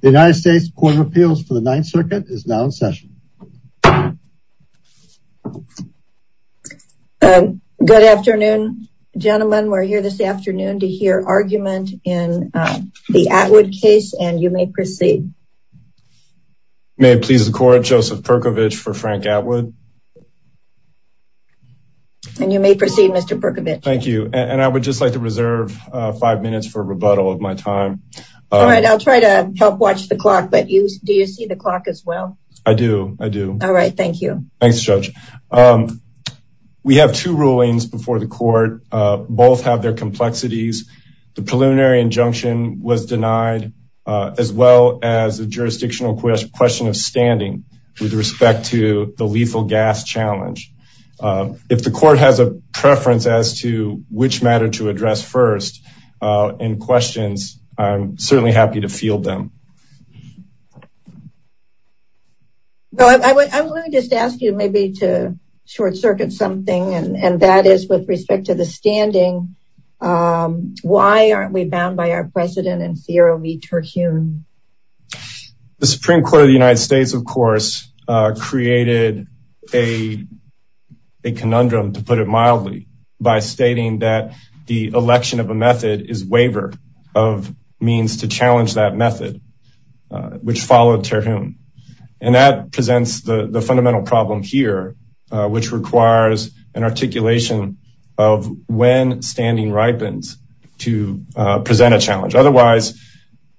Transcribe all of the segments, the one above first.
The United States Court of Appeals for the Ninth Circuit is now in session. Good afternoon, gentlemen. We're here this afternoon to hear argument in the Atwood case and you may proceed. May it please the court, Joseph Perkovich for Frank Atwood. And you may proceed, Mr. Perkovich. Thank you. And I would just like to reserve five minutes for rebuttal of my time. All right. I'll try to help watch the clock. But do you see the clock as well? I do. I do. All right. Thank you. Thanks, Judge. We have two rulings before the court. Both have their complexities. The preliminary injunction was denied, as well as a jurisdictional question of standing with respect to the lethal gas challenge. If the court has a preference as to which matter to address first in questions, I'm certainly happy to field them. Well, I would just ask you maybe to short circuit something. And that is with respect to the standing. Why aren't we bound by our precedent in CRO v. Terhune? The Supreme Court of the United States, of course, created a conundrum, to put it mildly, by stating that the election of a method is waiver of means to challenge that method, which followed Terhune. And that presents the fundamental problem here, which requires an articulation of when standing ripens to present a challenge. Otherwise,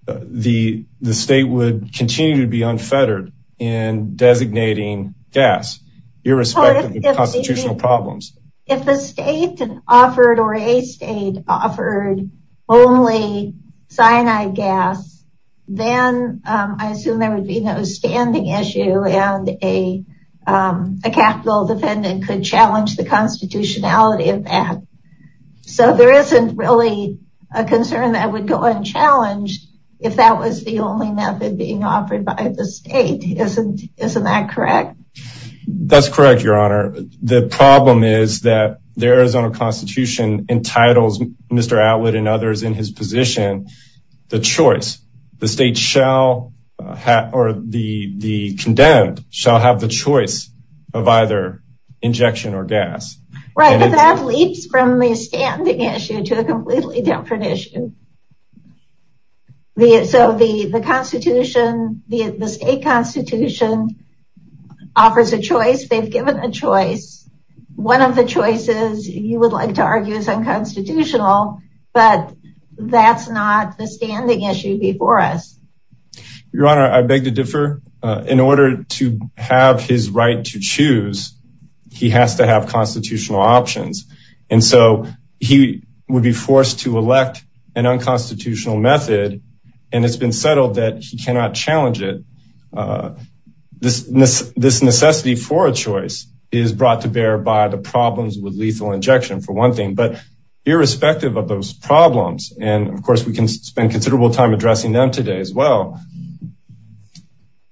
the state would continue to be unfettered in designating gas, irrespective of constitutional problems. If the state offered or a state offered only cyanide gas, then I assume there would be no standing issue and a capital defendant could challenge the constitutionality of that. So there isn't really a concern that would go unchallenged if that was the only method being offered by the state. Isn't that correct? That's correct, Your Honor. The problem is that the Arizona Constitution entitles Mr. Atwood and others in his position, the choice, the state shall have or the condemned shall have the choice of either injection or gas. Right, but that leaps from the standing issue to a completely different issue. So the constitution, the state constitution offers a choice, they've given a choice. One of the choices you would like to argue is unconstitutional, but that's not the standing issue before us. Your Honor, I beg to differ. In order to have his right to choose, he has to have constitutional options. And so he would be forced to elect an unconstitutional method. And it's been settled that he cannot challenge it. This necessity for a choice is brought to bear by the problems with lethal injection, for one thing, but irrespective of those problems. And of course, we can spend considerable time addressing them today as well.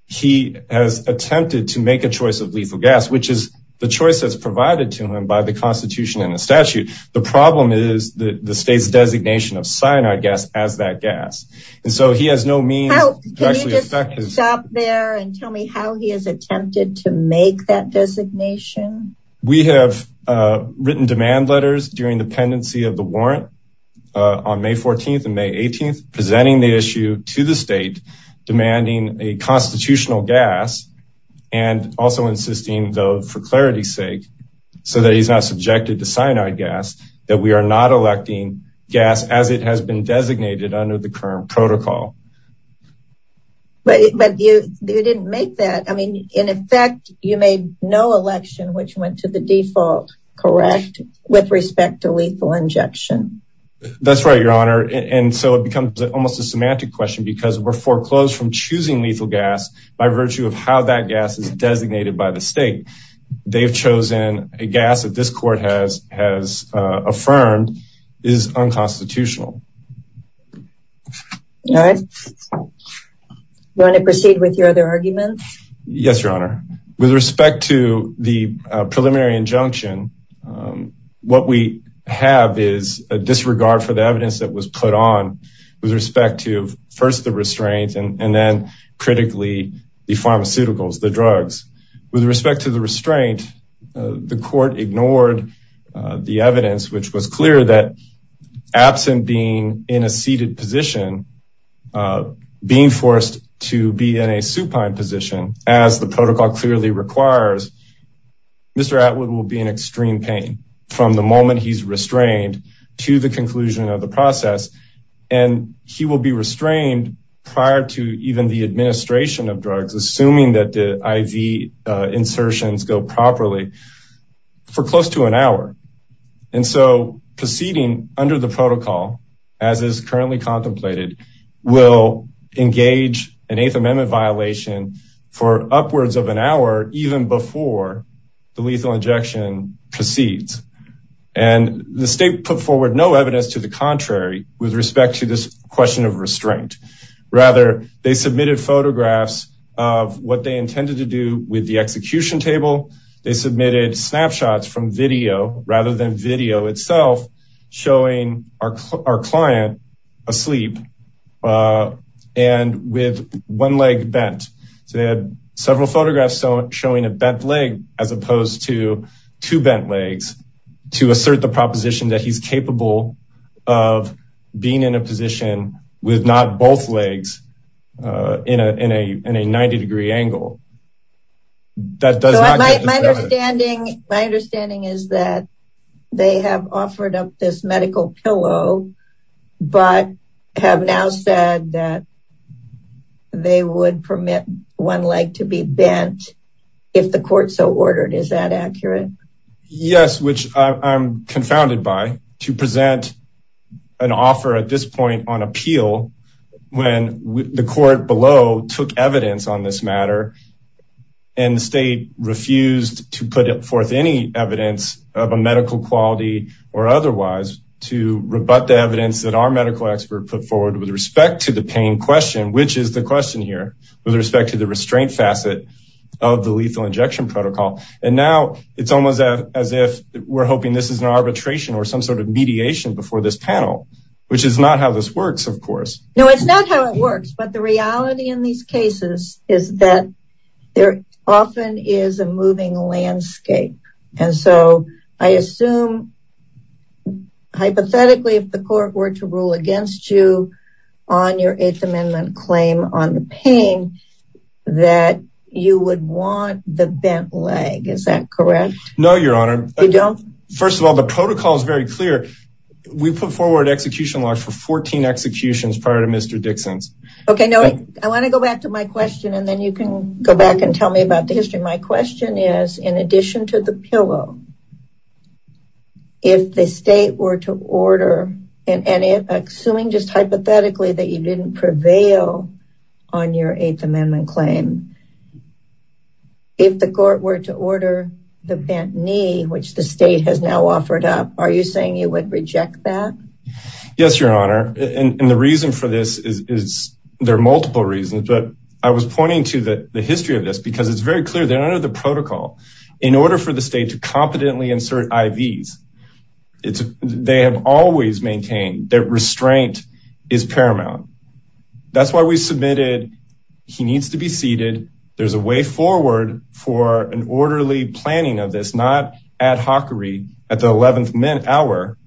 He has attempted to make a choice of lethal gas, which is the choice that's provided to him by the constitution and the statute. The problem is the state's designation of cyanide gas as that gas. And so he has no means to actually affect his... Can you just stop there and tell me how he has attempted to make that designation? We have written demand letters during the pendency of the warrant on May 14th and May 18th, presenting the issue to the state, demanding a constitutional gas and also insisting though, for clarity's sake, so that he's not subjected to cyanide gas, that we are not electing gas as it has been designated under the current protocol. But you didn't make that. I mean, in effect, you made no election, which went to the default, correct? With respect to lethal injection. That's right, Your Honor. And so it becomes almost a semantic question because we're foreclosed from choosing lethal gas by virtue of how that gas is designated by the state. They've chosen a gas that this court has affirmed is unconstitutional. All right. You want to proceed with your other arguments? Yes, Your Honor. With respect to the preliminary injunction, what we have is a disregard for the evidence that was put on with respect to first the restraint and then critically the pharmaceuticals, the drugs. With respect to the restraint, the court ignored the evidence, which was clear that absent being in a seated position, being forced to be in a supine position, as the protocol clearly requires, Mr. Atwood will be in extreme pain from the moment he's restrained to the conclusion of the process. And he will be restrained prior to even the administration of drugs, assuming that the IV insertions go properly for close to an hour. And so proceeding under the protocol, as is currently contemplated, will engage an Eighth Amendment violation for upwards of an hour even before the lethal injection proceeds. And the state put forward no evidence to the contrary with respect to this question of restraint. Rather, they submitted photographs of what they intended to do with the execution table. They submitted snapshots from video rather than video itself, showing our client asleep and with one leg bent. So they had several photographs showing a bent leg as opposed to two bent legs to assert the proposition that he's capable of being in a position with not both legs in a 90-degree angle. That does not- My understanding is that they have offered up this medical pillow, but have now said that they would permit one leg to be bent if the court so ordered. Is that accurate? Yes, which I'm confounded by. To present an offer at this point on appeal when the court below took evidence on this matter and the state refused to put forth any evidence of a medical quality or otherwise to rebut the evidence that our medical expert put forward with respect to the pain question, which is the question here, with respect to the restraint facet of the lethal injection protocol. And now it's almost as if we're hoping this is an arbitration or some sort of mediation before this panel, which is not how this works, of course. No, it's not how it works, but the reality in these cases is that there often is a moving landscape. And so I assume hypothetically, if the court were to rule against you on your Eighth Amendment claim on the pain, that you would want the bent leg. Is that correct? No, Your Honor. First of all, the protocol is very clear. We put forward execution laws for Mr. Dixon's. Okay. No, I want to go back to my question and then you can go back and tell me about the history. My question is, in addition to the pillow, if the state were to order and assuming just hypothetically that you didn't prevail on your Eighth Amendment claim, if the court were to order the bent knee, which the state has now offered up, are you saying you would reject that? Yes, Your Honor. And the reason for this is there are multiple reasons, but I was pointing to the history of this because it's very clear they're under the protocol. In order for the state to competently insert IVs, they have always maintained that restraint is paramount. That's why we submitted he needs to be seated. There's a way forward for an orderly planning of this, not ad hockery at the 11th hour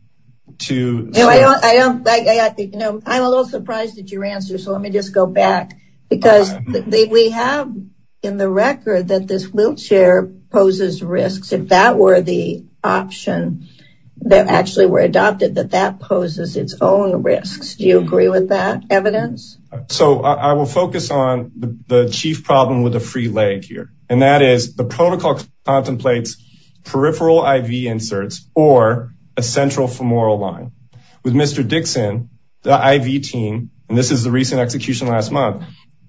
to- I'm a little surprised at your answer, so let me just go back because we have in the record that this wheelchair poses risks. If that were the option that actually were adopted, that that poses its own risks. Do you agree with that evidence? So I will focus on the chief problem with the free leg here, and that is the protocol contemplates peripheral IV inserts or a central femoral line. With Mr. Dixon, the IV team, and this is the recent execution last month,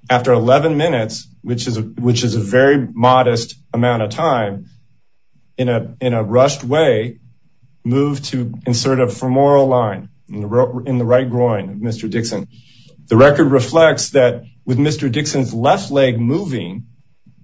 after 11 minutes, which is a very modest amount of time, in a rushed way, moved to insert a femoral line in the right groin of Mr. Dixon. The record reflects that with Mr. Dixon's left leg moving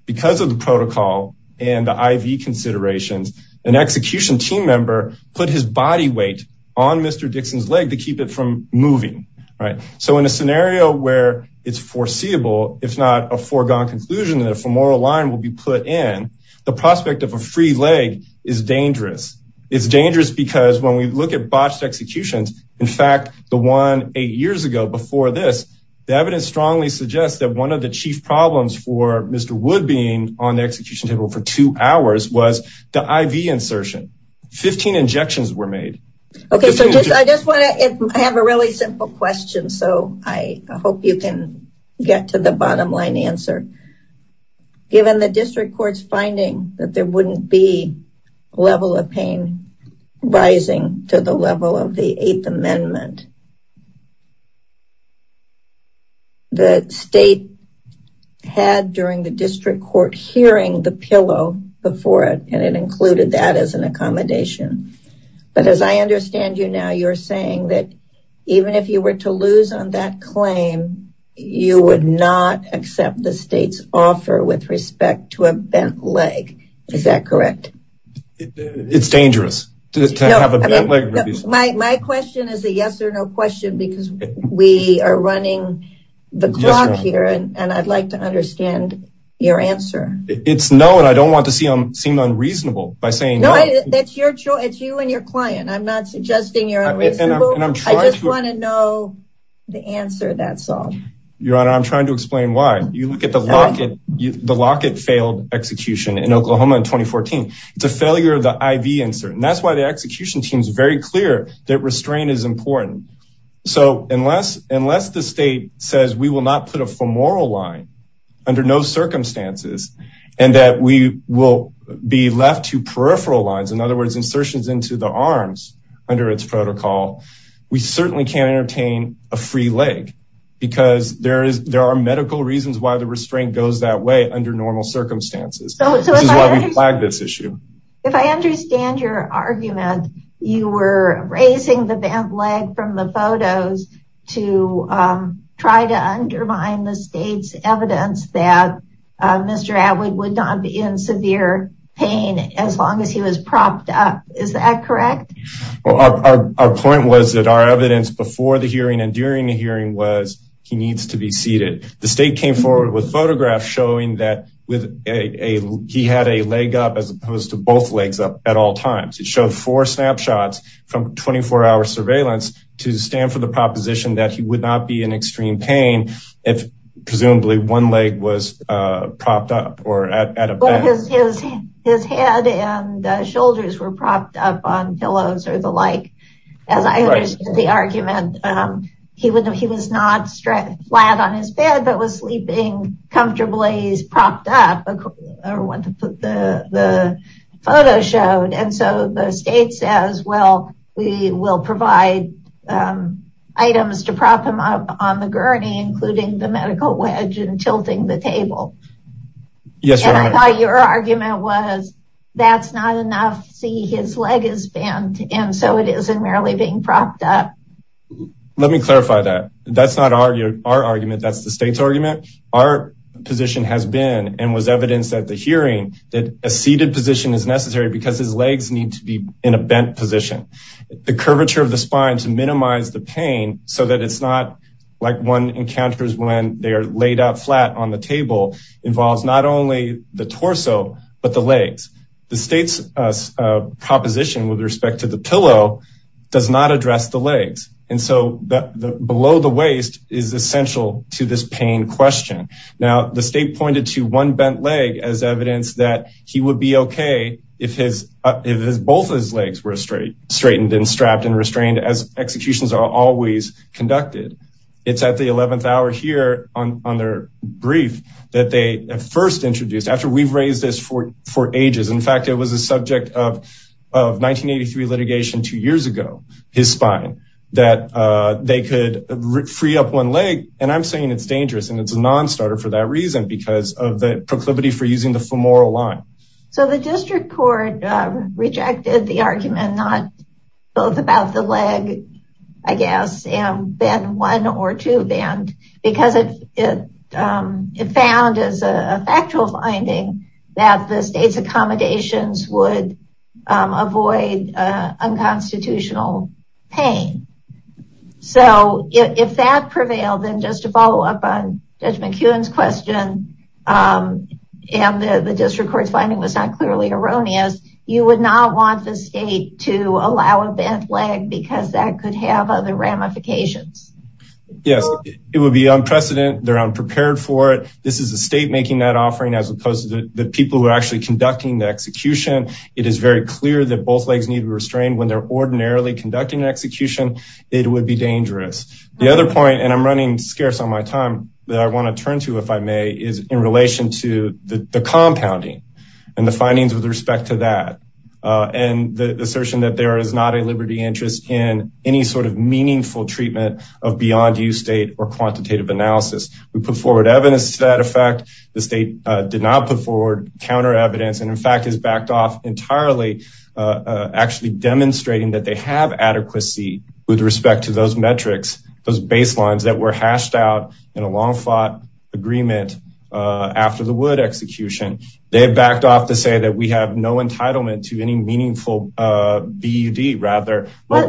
because of the protocol and the IV considerations, an execution team member put his body weight on Mr. Dixon's leg to keep it from moving, right? So in a scenario where it's foreseeable, if not a foregone conclusion that a femoral line will be put in, the prospect of a free leg is dangerous. It's dangerous because when we look at botched executions, in fact the one eight years ago before this, the evidence strongly suggests that one of chief problems for Mr. Wood being on the execution table for two hours was the IV insertion. 15 injections were made. Okay, so I just want to, I have a really simple question, so I hope you can get to the bottom line answer. Given the district court's finding that there wouldn't be level of pain rising to the level of the eighth amendment, the state had during the district court hearing the pillow before it, and it included that as an accommodation. But as I understand you now, you're saying that even if you were to lose on that claim, you would not accept the state's offer with respect to a bent leg. Is that correct? It's dangerous to have a bent leg. My question is a yes or no question because we are running the clock here, and I'd like to understand your answer. It's no, and I don't want to see them seem unreasonable by saying no. That's your choice. It's you and your client. I'm not suggesting you're unreasonable. I just want to know the answer, that's all. Your honor, I'm trying to explain why. You look at the locket failed execution in Oklahoma in 2014. It's a failure of the IV insert, and that's why the execution team is very clear that restraint is important. So unless the state says we will not put a femoral line under no circumstances, and that we will be left to peripheral lines, in other words, insertions into the arms under its protocol, we certainly can't entertain a free leg because there are medical reasons why the restraint goes that way under normal circumstances. This is why we flagged this issue. If I understand your argument, you were raising the bent leg from the photos to try to undermine the state's evidence that Mr. Atwood would not be in severe pain as long as he was propped up. Is that correct? Well, our point was that our evidence before the hearing and during the hearing was he needs to be seated. The state came forward with photographs showing that he had a leg up as opposed to both legs up at all times. It showed four snapshots from 24-hour surveillance to stand for the proposition that he would not be in extreme pain if presumably one leg was propped up. His head and shoulders were propped up on pillows or the like. As I understand the argument, he was not flat on his bed, but was sleeping comfortably propped up, or what the photo showed. And so the state says, well, we will provide items to prop him up on the table. And I thought your argument was that's not enough. See, his leg is bent and so it isn't really being propped up. Let me clarify that. That's not our argument. That's the state's argument. Our position has been and was evidenced at the hearing that a seated position is necessary because his legs need to be in a bent position. The curvature of the spine to minimize the pain so that it's not like one encounters when they are laid out flat on the table involves not only the torso, but the legs. The state's proposition with respect to the pillow does not address the legs. And so below the waist is essential to this pain question. Now, the state pointed to one bent leg as evidence that he would be okay if both of his legs were straightened and strapped and conducted. It's at the 11th hour here on their brief that they first introduced after we've raised this for ages. In fact, it was a subject of 1983 litigation two years ago, his spine, that they could free up one leg. And I'm saying it's dangerous and it's a non-starter for that reason because of the proclivity for using the femoral line. So the district court rejected the bent one or two bent because it found as a factual finding that the state's accommodations would avoid unconstitutional pain. So if that prevailed, then just to follow up on Judge McKeown's question and the district court's finding was not clearly erroneous, you would not want the state to allow bent leg because that could have other ramifications. Yes, it would be unprecedented. They're unprepared for it. This is the state making that offering as opposed to the people who are actually conducting the execution. It is very clear that both legs need to be restrained when they're ordinarily conducting an execution, it would be dangerous. The other point, and I'm running scarce on my time that I want to turn to, if I may, is in relation to the compounding and the findings with respect to that. And the assertion that there is not a liberty interest in any sort of meaningful treatment of beyond you state or quantitative analysis. We put forward evidence to that effect. The state did not put forward counter evidence and in fact has backed off entirely actually demonstrating that they have adequacy with respect to those metrics, those baselines that were hashed out in a long fought agreement after the Wood execution. They backed off to say that we have no entitlement to any meaningful BUD rather. What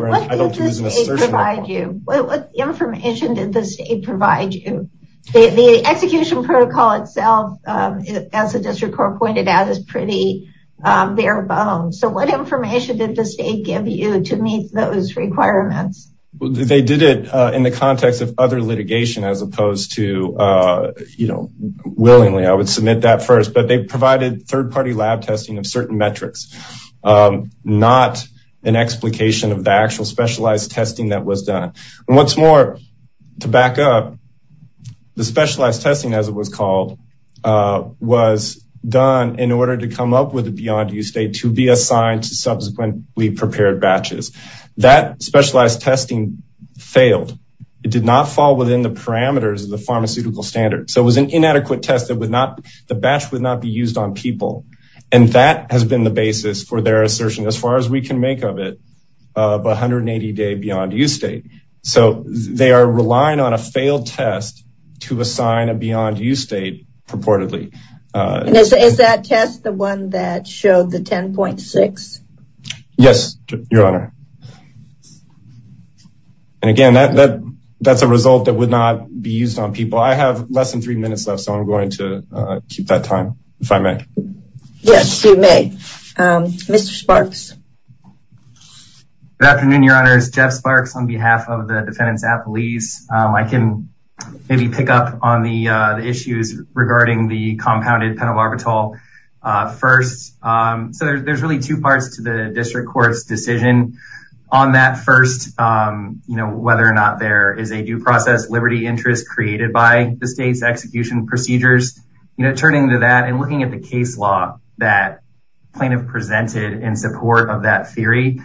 information did the state provide you? The execution protocol itself, as the district court pointed out, is pretty bare bones. So what information did the state give you to meet those requirements? They did it in the context of other litigation as opposed to, you know, willingly I would submit that first, but they provided third-party lab testing of certain metrics, not an explication of the actual specialized testing that was done. And what's more, to back up, the specialized testing as it was called was done in order to come up with a beyond you state to be assigned to subsequently prepared batches. That specialized testing failed. It did not fall within the parameters of the pharmaceutical standard. So it was an inadequate test that would not, the batch would not be used on people. And that has been the basis for their assertion, as far as we can make of it, of 180 day beyond you state. So they are relying on a failed test to assign a beyond you state purportedly. Is that test the one that showed the 10.6? Yes, your honor. And again, that's a result that would not be used on people. I have less than three minutes left, so I'm going to keep that time, if I may. Yes, you may. Mr. Sparks. Good afternoon, your honors. Jeff Sparks on behalf of the defendants at police. I can maybe pick up on the issues regarding the compounded penal barbital first. So there's really two parts to the district court's decision. On that first, you know, whether or not there is a due process liberty interest created by the state's execution procedures, you know, turning to that and looking at the case law that plaintiff presented in support of that theory.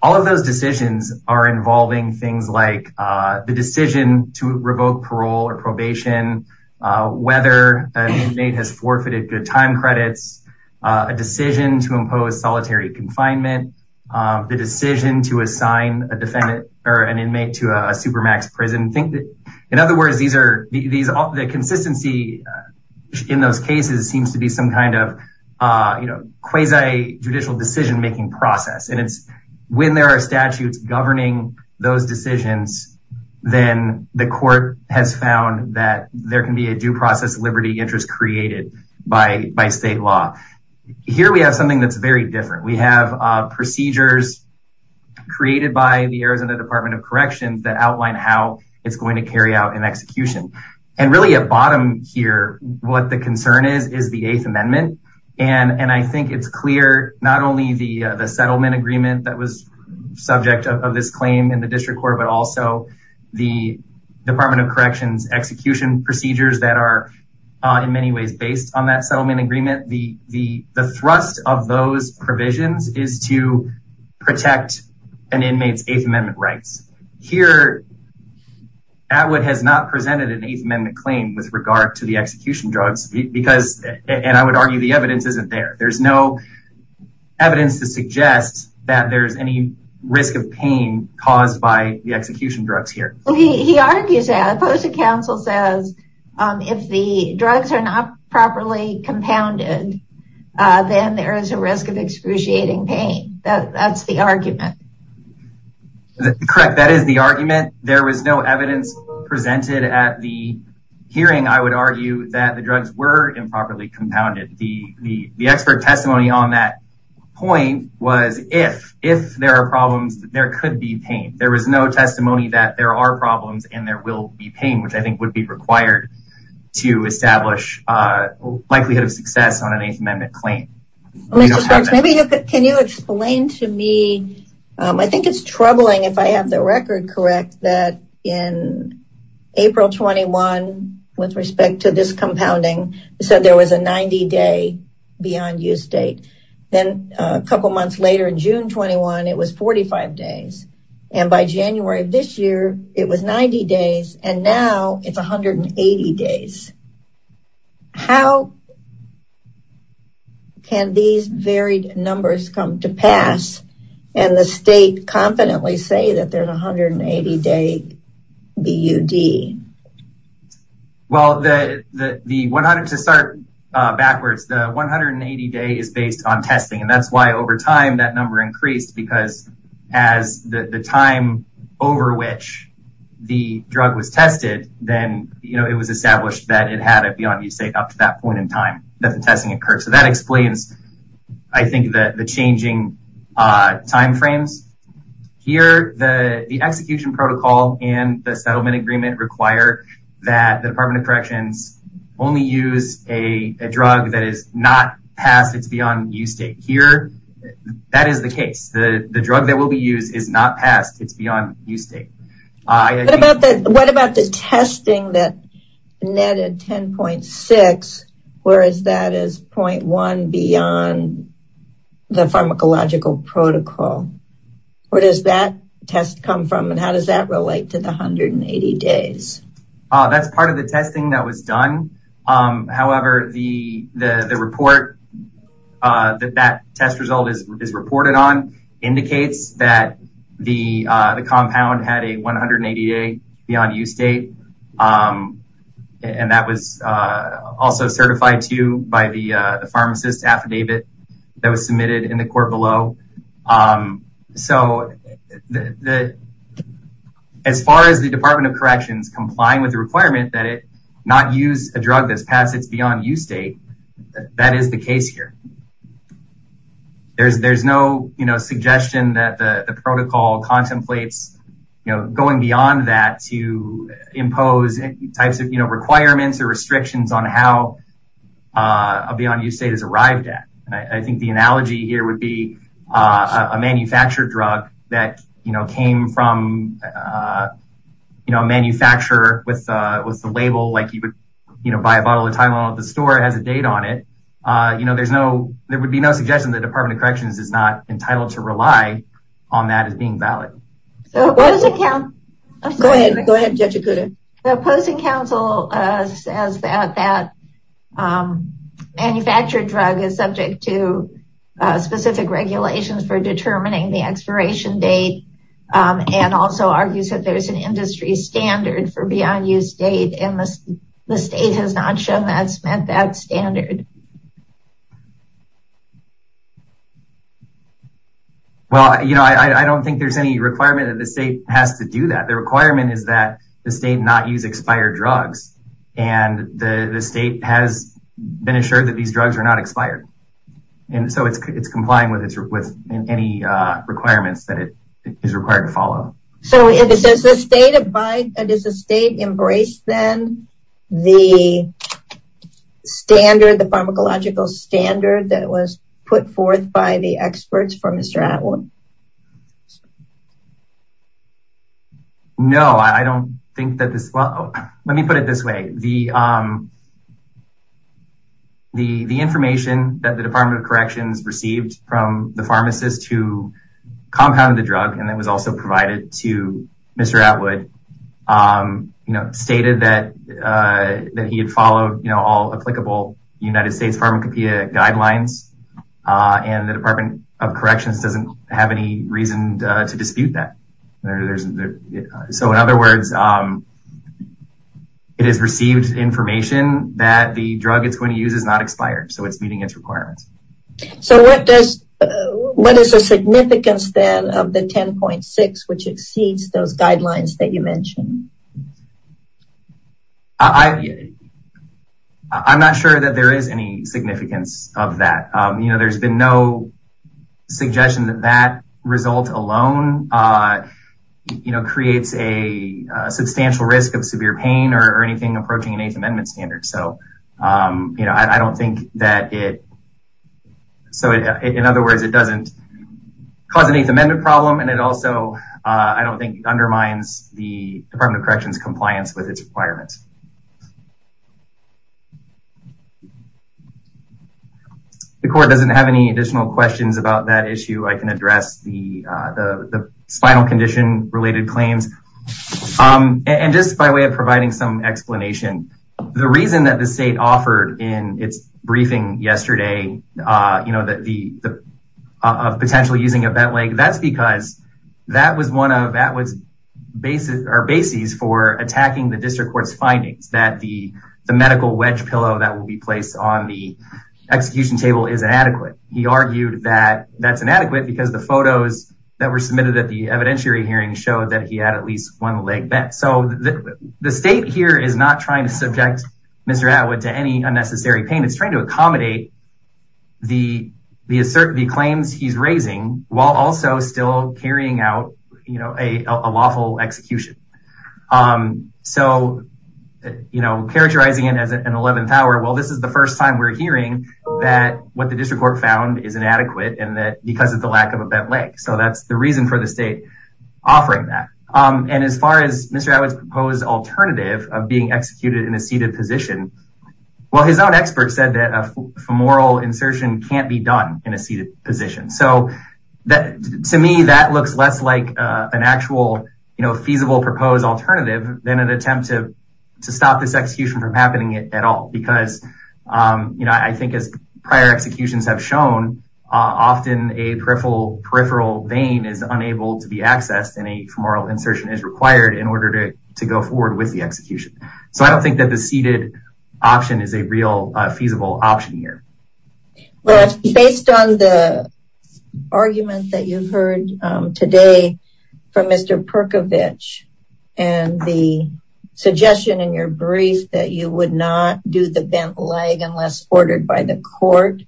All of those decisions are involving things like the decision to revoke parole or probation, whether an inmate has forfeited good time credits, a decision to impose solitary confinement, the decision to assign a defendant or an inmate to a supermax prison. In other words, the consistency in those cases seems to be some kind of, you know, quasi judicial decision making process. And it's when there are governing those decisions, then the court has found that there can be a due process liberty interest created by state law. Here we have something that's very different. We have procedures created by the Arizona Department of Corrections that outline how it's going to carry out an execution. And really at bottom here, what the concern is, is the Eighth Amendment. And I think it's clear, not only the settlement agreement that was subject of this claim in the district court, but also the Department of Corrections execution procedures that are in many ways based on that settlement agreement. The thrust of those provisions is to protect an inmate's Eighth Amendment rights. Here Atwood has not presented an Eighth Amendment claim with the evidence. I would argue the evidence isn't there. There's no evidence to suggest that there's any risk of pain caused by the execution drugs here. He argues that the Postal Council says if the drugs are not properly compounded, then there is a risk of excruciating pain. That's the argument. Correct. That is the argument. There was no evidence presented at the the expert testimony on that point was if there are problems, there could be pain. There was no testimony that there are problems and there will be pain, which I think would be required to establish a likelihood of success on an Eighth Amendment claim. Can you explain to me? I think it's troubling if I have the record correct that in April 21, with respect to this compounding, said there was a 90 day beyond use date. Then a couple months later in June 21, it was 45 days. And by January of this year, it was 90 days. And now it's 180 days. How can these varied numbers come to pass and the state confidently say that there's a 180 day BUD? Well, to start backwards, the 180 day is based on testing. And that's why over time, that number increased because as the time over which the drug was tested, then it was established that it had a beyond use date up to that point in time that the testing occurred. So that explains, I think, the changing timeframes. Here, the execution protocol and the settlement agreement require that the Department of Corrections only use a drug that is not past its beyond use date. Here, that is the case. The drug that will be used is not past its beyond use date. What about the testing that netted 10.6, whereas that is 0.1 beyond the pharmacological protocol? Where does that test come from? And how does that relate to the 180 days? That's part of the testing that was done. However, the report that that test result is reported on that the compound had a 180 day beyond use date. And that was also certified to you by the pharmacist affidavit that was submitted in the court below. So as far as the Department of Corrections complying with the requirement that it not use a drug that's past its beyond use date, that is the case here. There's no suggestion that the protocol contemplates going beyond that to impose types of requirements or restrictions on how a beyond use date is arrived at. I think the analogy here would be a manufactured drug that came from a manufacturer with the label, like you would buy a bottle of Tylenol at the store has a date on it. There's no, there would be no suggestion the Department of Corrections is not entitled to rely on that as being valid. So what does it count? Go ahead, go ahead, Judge Okuda. The opposing counsel says that that manufactured drug is subject to specific regulations for determining the expiration date and also argues that there's an industry standard for beyond use date in the state has not shown that's met that standard. Well, you know, I don't think there's any requirement that the state has to do that. The requirement is that the state not use expired drugs. And the state has been assured that these drugs are not expired. And so it's complying with any requirements that it is required to follow. So if it says the state of by does the state embrace then the standard, the pharmacological standard that was put forth by the experts for Mr. Atwood? No, I don't think that this well, let me put it this way, the the the information that the Department of Corrections received from the pharmacist who compounded the drug, and that was also provided to Mr. Atwood, you know, stated that that he had followed, you know, all applicable United States pharmacopeia guidelines. And the Department of Corrections doesn't have any reason to dispute that. So in other words, it has received information that the drug it's going to use is not expired. So it's meeting its which exceeds those guidelines that you mentioned. I'm not sure that there is any significance of that. You know, there's been no suggestion that that result alone, you know, creates a substantial risk of severe pain or anything approaching an Eighth Amendment standard. So, you know, I don't think that it so in other words, it doesn't cause an Eighth Amendment problem. And it also, I don't think undermines the Department of Corrections compliance with its requirements. The court doesn't have any additional questions about that issue, I can address the spinal condition related claims. And just by way of providing some explanation, the reason that the state offered in its briefing yesterday, you know, that the potential using of that leg, that's because that was one of Atwood's basis or basis for attacking the district court's findings that the medical wedge pillow that will be placed on the execution table is inadequate. He argued that that's inadequate because the photos that were submitted at the evidentiary hearing showed that he had at least one leg back. So the state here is not trying to subject Mr. Atwood to any unnecessary pain, it's trying to accommodate the claims he's raising while also still carrying out, you know, a lawful execution. So, you know, characterizing it as an 11th hour, well, this is the first time we're hearing that what the district court found is inadequate and that because of the lack of a bent leg. So that's the reason for the state offering that. And as far as Mr. Atwood's proposed alternative of being executed in a seated position, well, his own expert said that a femoral insertion can't be done in a seated position. So to me, that looks less like an actual, you know, feasible proposed alternative than an attempt to stop this execution from happening at all. Because, you know, I think as prior executions have shown, often a peripheral vein is unable to be accessed and a femoral insertion is required in order to go forward with the execution. So I don't think that the seated option is a real feasible option here. Well, based on the argument that you've heard today from Mr. Perkovich and the suggestion in your brief that you would not do the bent leg unless ordered by the court,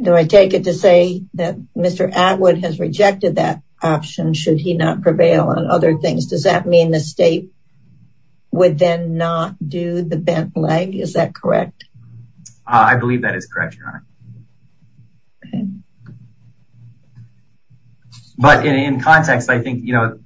do I take it to say that Mr. Atwood has rejected that option should he not prevail on other things? Does that mean the state would then not do the bent leg? Is that correct? I believe that is correct, Your Honor. But in context, I think, you know,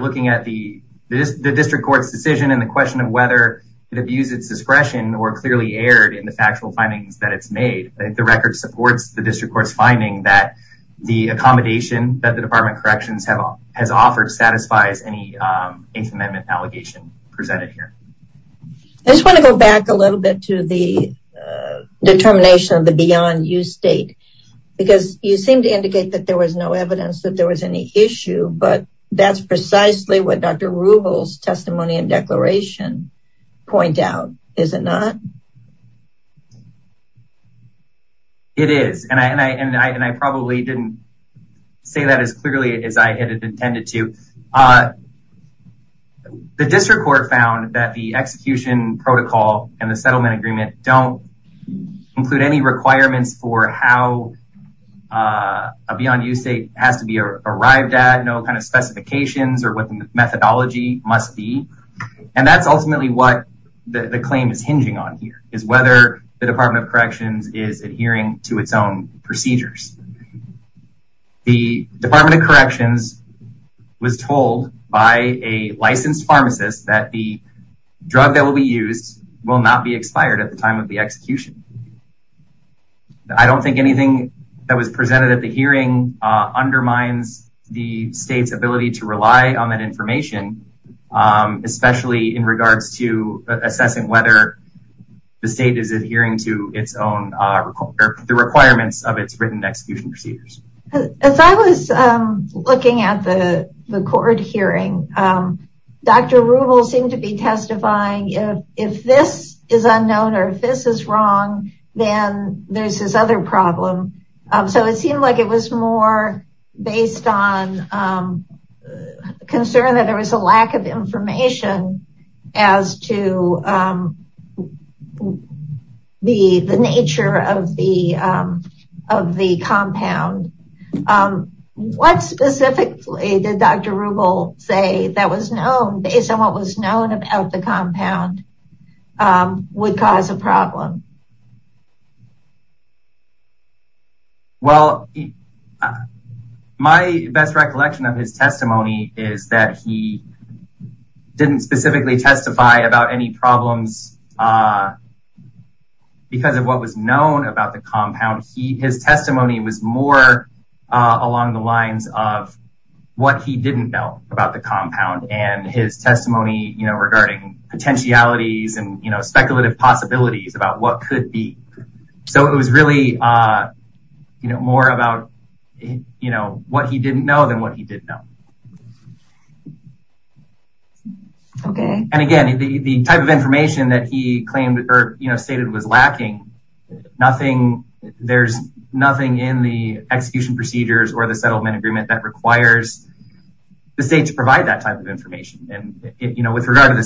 looking at the district court's decision and the question of whether it abused its discretion or clearly erred in the factual findings that it's the district court's finding that the accommodation that the Department of Corrections has offered satisfies any Eighth Amendment allegation presented here. I just want to go back a little bit to the determination of the beyond use date because you seem to indicate that there was no evidence that there was any issue, but that's precisely what Dr. Ruble's and I probably didn't say that as clearly as I had intended to. The district court found that the execution protocol and the settlement agreement don't include any requirements for how a beyond use date has to be arrived at, no kind of specifications or what the methodology must be. And that's ultimately what the claim is procedures. The Department of Corrections was told by a licensed pharmacist that the drug that will be used will not be expired at the time of the execution. I don't think anything that was presented at the hearing undermines the state's ability to rely on that information, especially in regards to assessing whether the state is adhering to its own requirements of its written execution procedures. As I was looking at the court hearing, Dr. Ruble seemed to be testifying, if this is unknown or if this is wrong, then there's this other problem. So it seemed like it was more based on concern that there was a lack of information as to the nature of the compound. What specifically did Dr. Ruble say that was known based on what was known about the compound would cause a problem? Well, my best recollection of his testimony is that he didn't specifically testify about any problems because of what was known about the compound. His testimony was more along the lines of what he didn't know about the compound and his testimony regarding potentialities and what could be. So it was really more about what he didn't know than what he did know. And again, the type of information that he stated was lacking, there's nothing in the execution procedures or the settlement agreement that requires the state to provide that type of information. With regard to the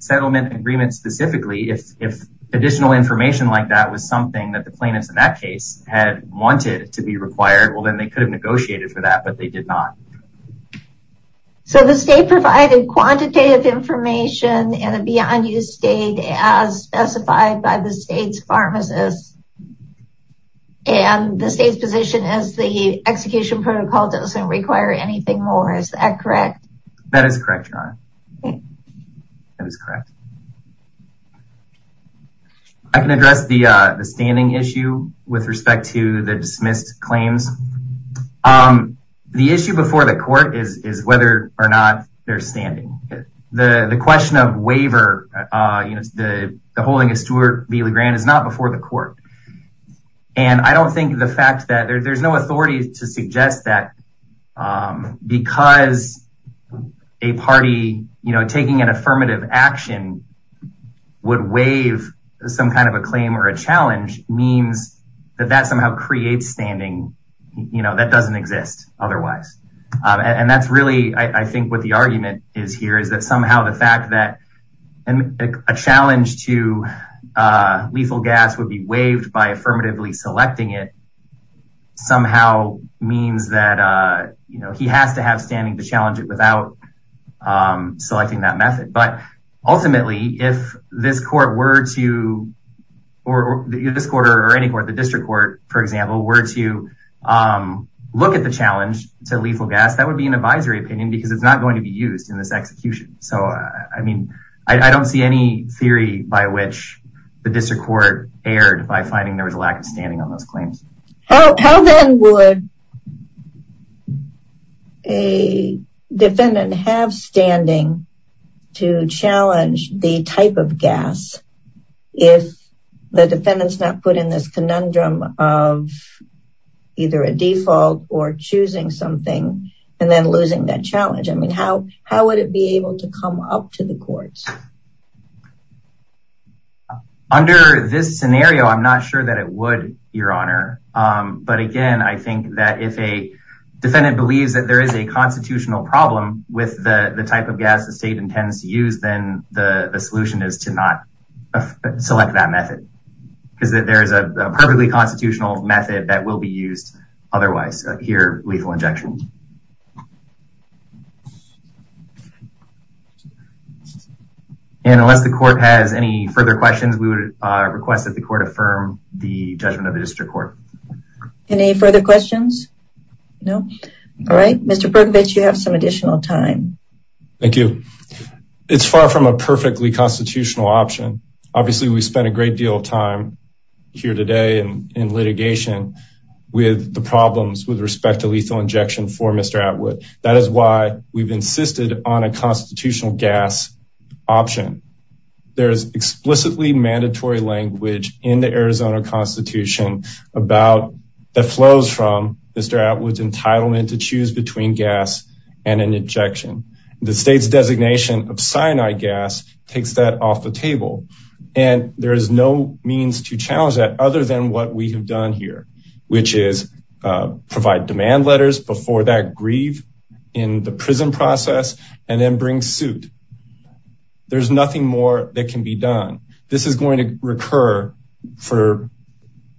settlement agreement specifically, if additional information like that was something that the plaintiffs in that case had wanted to be required, well then they could have negotiated for that, but they did not. So the state provided quantitative information in a beyond use state as specified by the state's pharmacist and the state's position is the execution protocol doesn't require anything more. Is that correct? That is correct, Ron. That is correct. I can address the standing issue with respect to the dismissed claims. The issue before the court is whether or not they're standing. The question of waiver, the holding of Stewart v. LeGrand is not before the court. And I don't think the fact that there's no authority to suggest that because a party taking an affirmative action would waive some kind of a claim or a challenge means that that somehow creates standing that doesn't exist otherwise. And that's really, I think what the argument is here is that somehow the fact that a challenge to lethal gas would be waived by affirmatively selecting it somehow means that he has to have standing to challenge it without selecting that method. But ultimately, if this court were to or this quarter or any court, the district court, for example, were to look at the challenge to lethal gas, that would be an advisory opinion because it's not to be used in this execution. So I mean, I don't see any theory by which the district court erred by finding there was a lack of standing on those claims. How then would a defendant have standing to challenge the type of gas if the defendant's not put in this conundrum of either a default or choosing something and then losing that challenge? I mean, how would it be able to come up to the courts? Under this scenario, I'm not sure that it would, Your Honor. But again, I think that if a defendant believes that there is a constitutional problem with the type of gas the state intends to use, then the solution is to not select that method because there is a perfectly constitutional method that will be used otherwise. Here, lethal injection. And unless the court has any further questions, we would request that the court affirm the judgment of the district court. Any further questions? No? All right, Mr. Berkovich, you have some additional time. Thank you. It's far from a perfectly constitutional option. Obviously, we spent a great deal of time here today in litigation with the problems with respect to lethal injection for Mr. Atwood. That is why we've insisted on a constitutional gas option. There is explicitly mandatory language in the Arizona Constitution that flows from Mr. Atwood's entitlement to choose between gas and an injection. The state's off the table. And there is no means to challenge that other than what we have done here, which is provide demand letters before that grieve in the prison process and then bring suit. There's nothing more that can be done. This is going to recur for,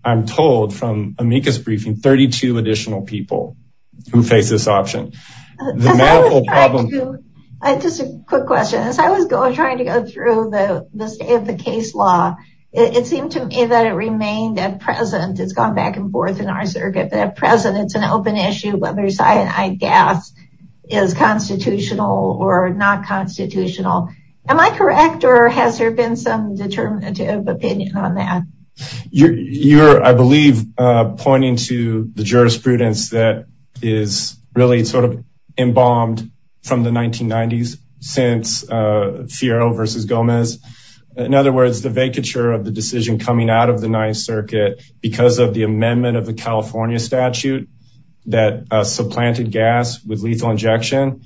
I'm told, from amicus briefing, 32 additional people who face this option. The medical problem. Just a quick question. As I was trying to go through the state of the case law, it seemed to me that it remained at present. It's gone back and forth in our circuit, but at present, it's an open issue whether cyanide gas is constitutional or not constitutional. Am I correct? Or has there been some determinative opinion on that? You're, I believe, pointing to the jurisprudence that is really sort of embalmed from the 1990s since Fiorillo versus Gomez. In other words, the vacature of the decision coming out of the Ninth Circuit because of the amendment of the California statute that supplanted gas with lethal injection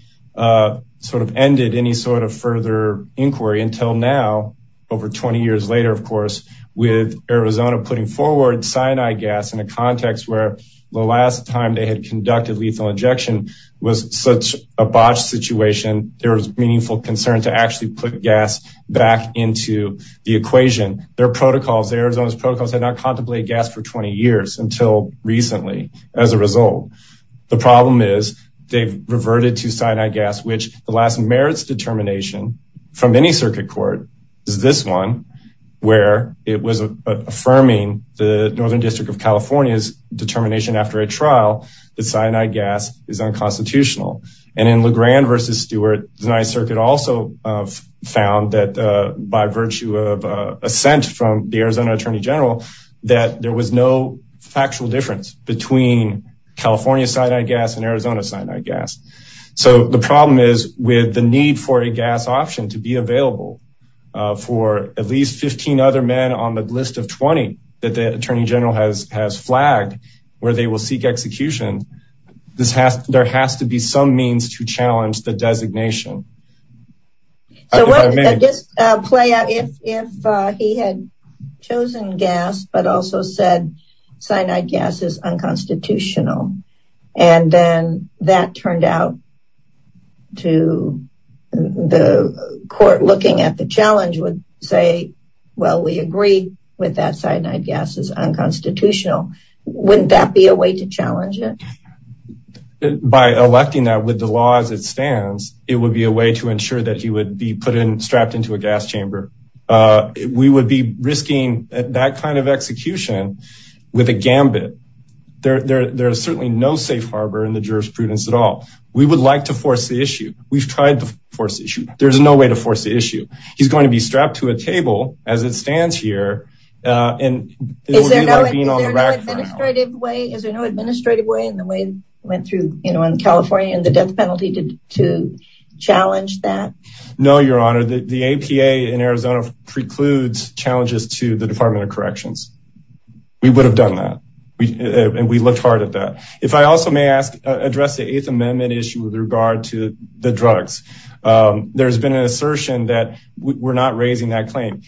sort of ended any sort of further inquiry until now, over 20 years later, of course, with Arizona putting forward cyanide gas in a context where the last time they had conducted lethal injection was such a botched situation, there was meaningful concern to actually put gas back into the equation. Their protocols, Arizona's protocols, had not contemplated gas for 20 years until recently as a result. The problem is they've reverted to cyanide gas, which the last merits determination from any circuit court is this one, where it was affirming the Northern District of California's determination after a trial that cyanide gas is unconstitutional. And in Legrand versus Stewart, the Ninth Circuit also found that by virtue of assent from the Arizona Attorney General, that there was no factual difference between California cyanide gas and Arizona cyanide gas. So the problem is with the need for a gas option to be available for at least 15 other men on the list of 20 that the Attorney General has flagged where they will seek execution, this has, there has to be some means to challenge the designation. So just play out if he had chosen gas but also said cyanide gas is unconstitutional, and then that turned out to the court looking at the challenge would say, well we agree with that cyanide gas is unconstitutional. Wouldn't that be a way to challenge it? By electing that with the law as it stands, it would be a way to ensure that he would be put in, strapped into a gas chamber. We would be risking that kind of execution with a gambit. There's certainly no safe harbor in the jurisprudence at all. We would like to force the issue. We've tried to force the issue. There's no way to force the issue. He's going to be strapped to a table as it stands here. Is there no administrative way in the way went through, you know, in California and the death penalty to challenge that? No, Your Honor, the APA in Arizona precludes challenges to the Department of Corrections. We would have done that and we looked hard at that. If I also may ask, address the Eighth Amendment issue with regard to the drugs. There's been an assertion that we're not raising that claim.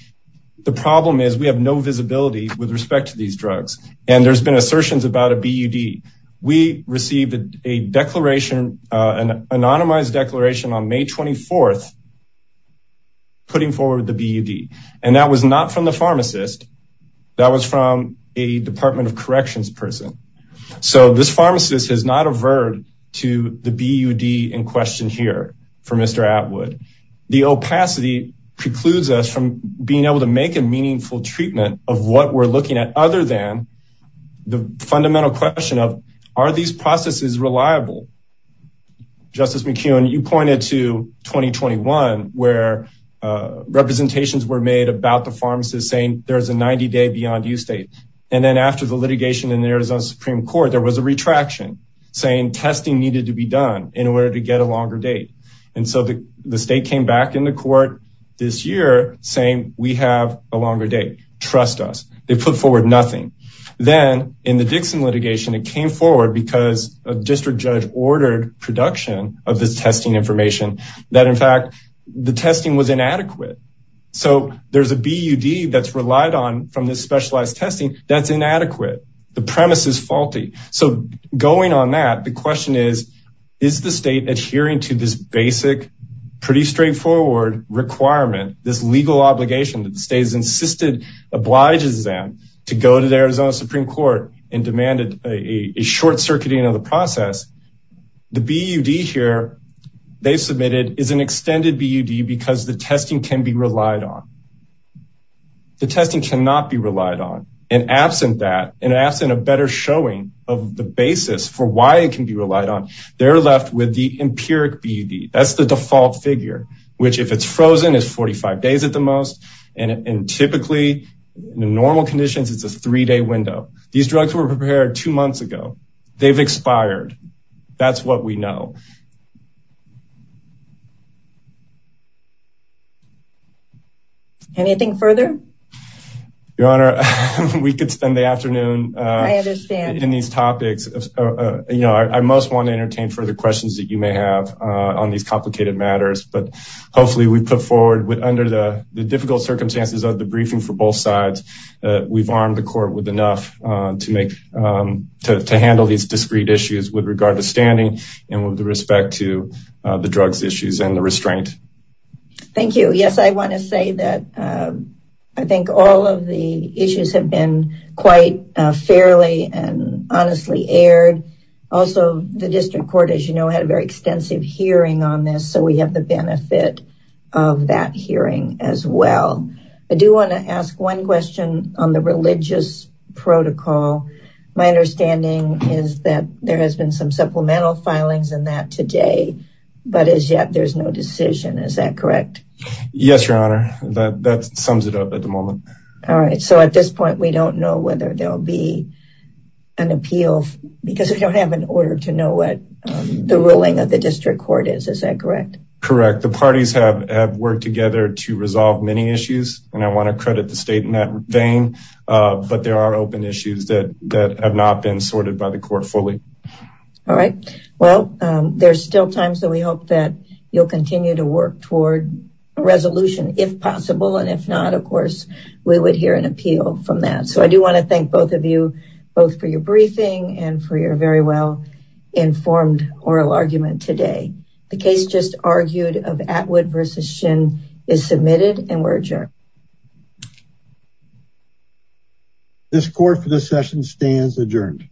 The problem is we have no visibility with respect to these drugs and there's been assertions about a BUD. We received a declaration, an anonymized declaration on May 24th putting forward the BUD and that was not from the pharmacist. That was from a Department of Corrections person. So this pharmacist has not averred to the BUD in question here for Mr. Atwood. The opacity precludes us from being able to make a meaningful treatment of what we're looking at other than the fundamental question of are these processes reliable? Justice McKeown, you pointed to 2021 where representations were made about the pharmacist saying there's a 90 day beyond use date. And then after the litigation in the Arizona Supreme Court, there was a retraction saying testing needed to be done in order to get a longer date. And so the state came back in the court this year saying we have a longer date. Trust us. They put forward nothing. Then in the Dixon litigation, it came forward because a district judge ordered production of this testing information that in fact the testing was inadequate. So there's a BUD that's relied on from this specialized testing that's inadequate. The premise is faulty. So going on that, the question is, is the state adhering to this basic pretty straightforward requirement, this legal obligation that the state has insisted obliges them to go to the Arizona Supreme Court and demanded a short circuiting of the process. The BUD here they submitted is an extended BUD because the testing can be relied on. The testing cannot be relied on. And absent that, and absent a better showing of the basis for why it can be relied on, they're left with the empiric BUD. That's the default figure, which if it's in normal conditions, it's a three-day window. These drugs were prepared two months ago. They've expired. That's what we know. Anything further? Your Honor, we could spend the afternoon in these topics. I most want to entertain further questions that you may have on these complicated matters. But hopefully we put under the difficult circumstances of the briefing for both sides, we've armed the court with enough to handle these discrete issues with regard to standing and with respect to the drugs issues and the restraint. Thank you. Yes, I want to say that I think all of the issues have been quite fairly and honestly aired. Also, the district court, as you know, had a very extensive hearing on this. So we have the benefit of that hearing as well. I do want to ask one question on the religious protocol. My understanding is that there has been some supplemental filings in that today, but as yet there's no decision. Is that correct? Yes, Your Honor. That sums it up at the moment. All right. So at this point, we don't know whether there'll be an appeal because we don't have an order to know what the ruling of the district court is. Is that correct? Correct. The parties have worked together to resolve many issues. And I want to credit the state in that vein. But there are open issues that have not been sorted by the court fully. All right. Well, there's still time. So we hope that you'll continue to work toward resolution if possible. And if not, of course, we would hear an appeal from that. So I do want to thank both of you, both for your briefing and for your very well informed oral argument today. The case just argued of Atwood versus Shin is submitted and we're adjourned. This court for this session stands adjourned.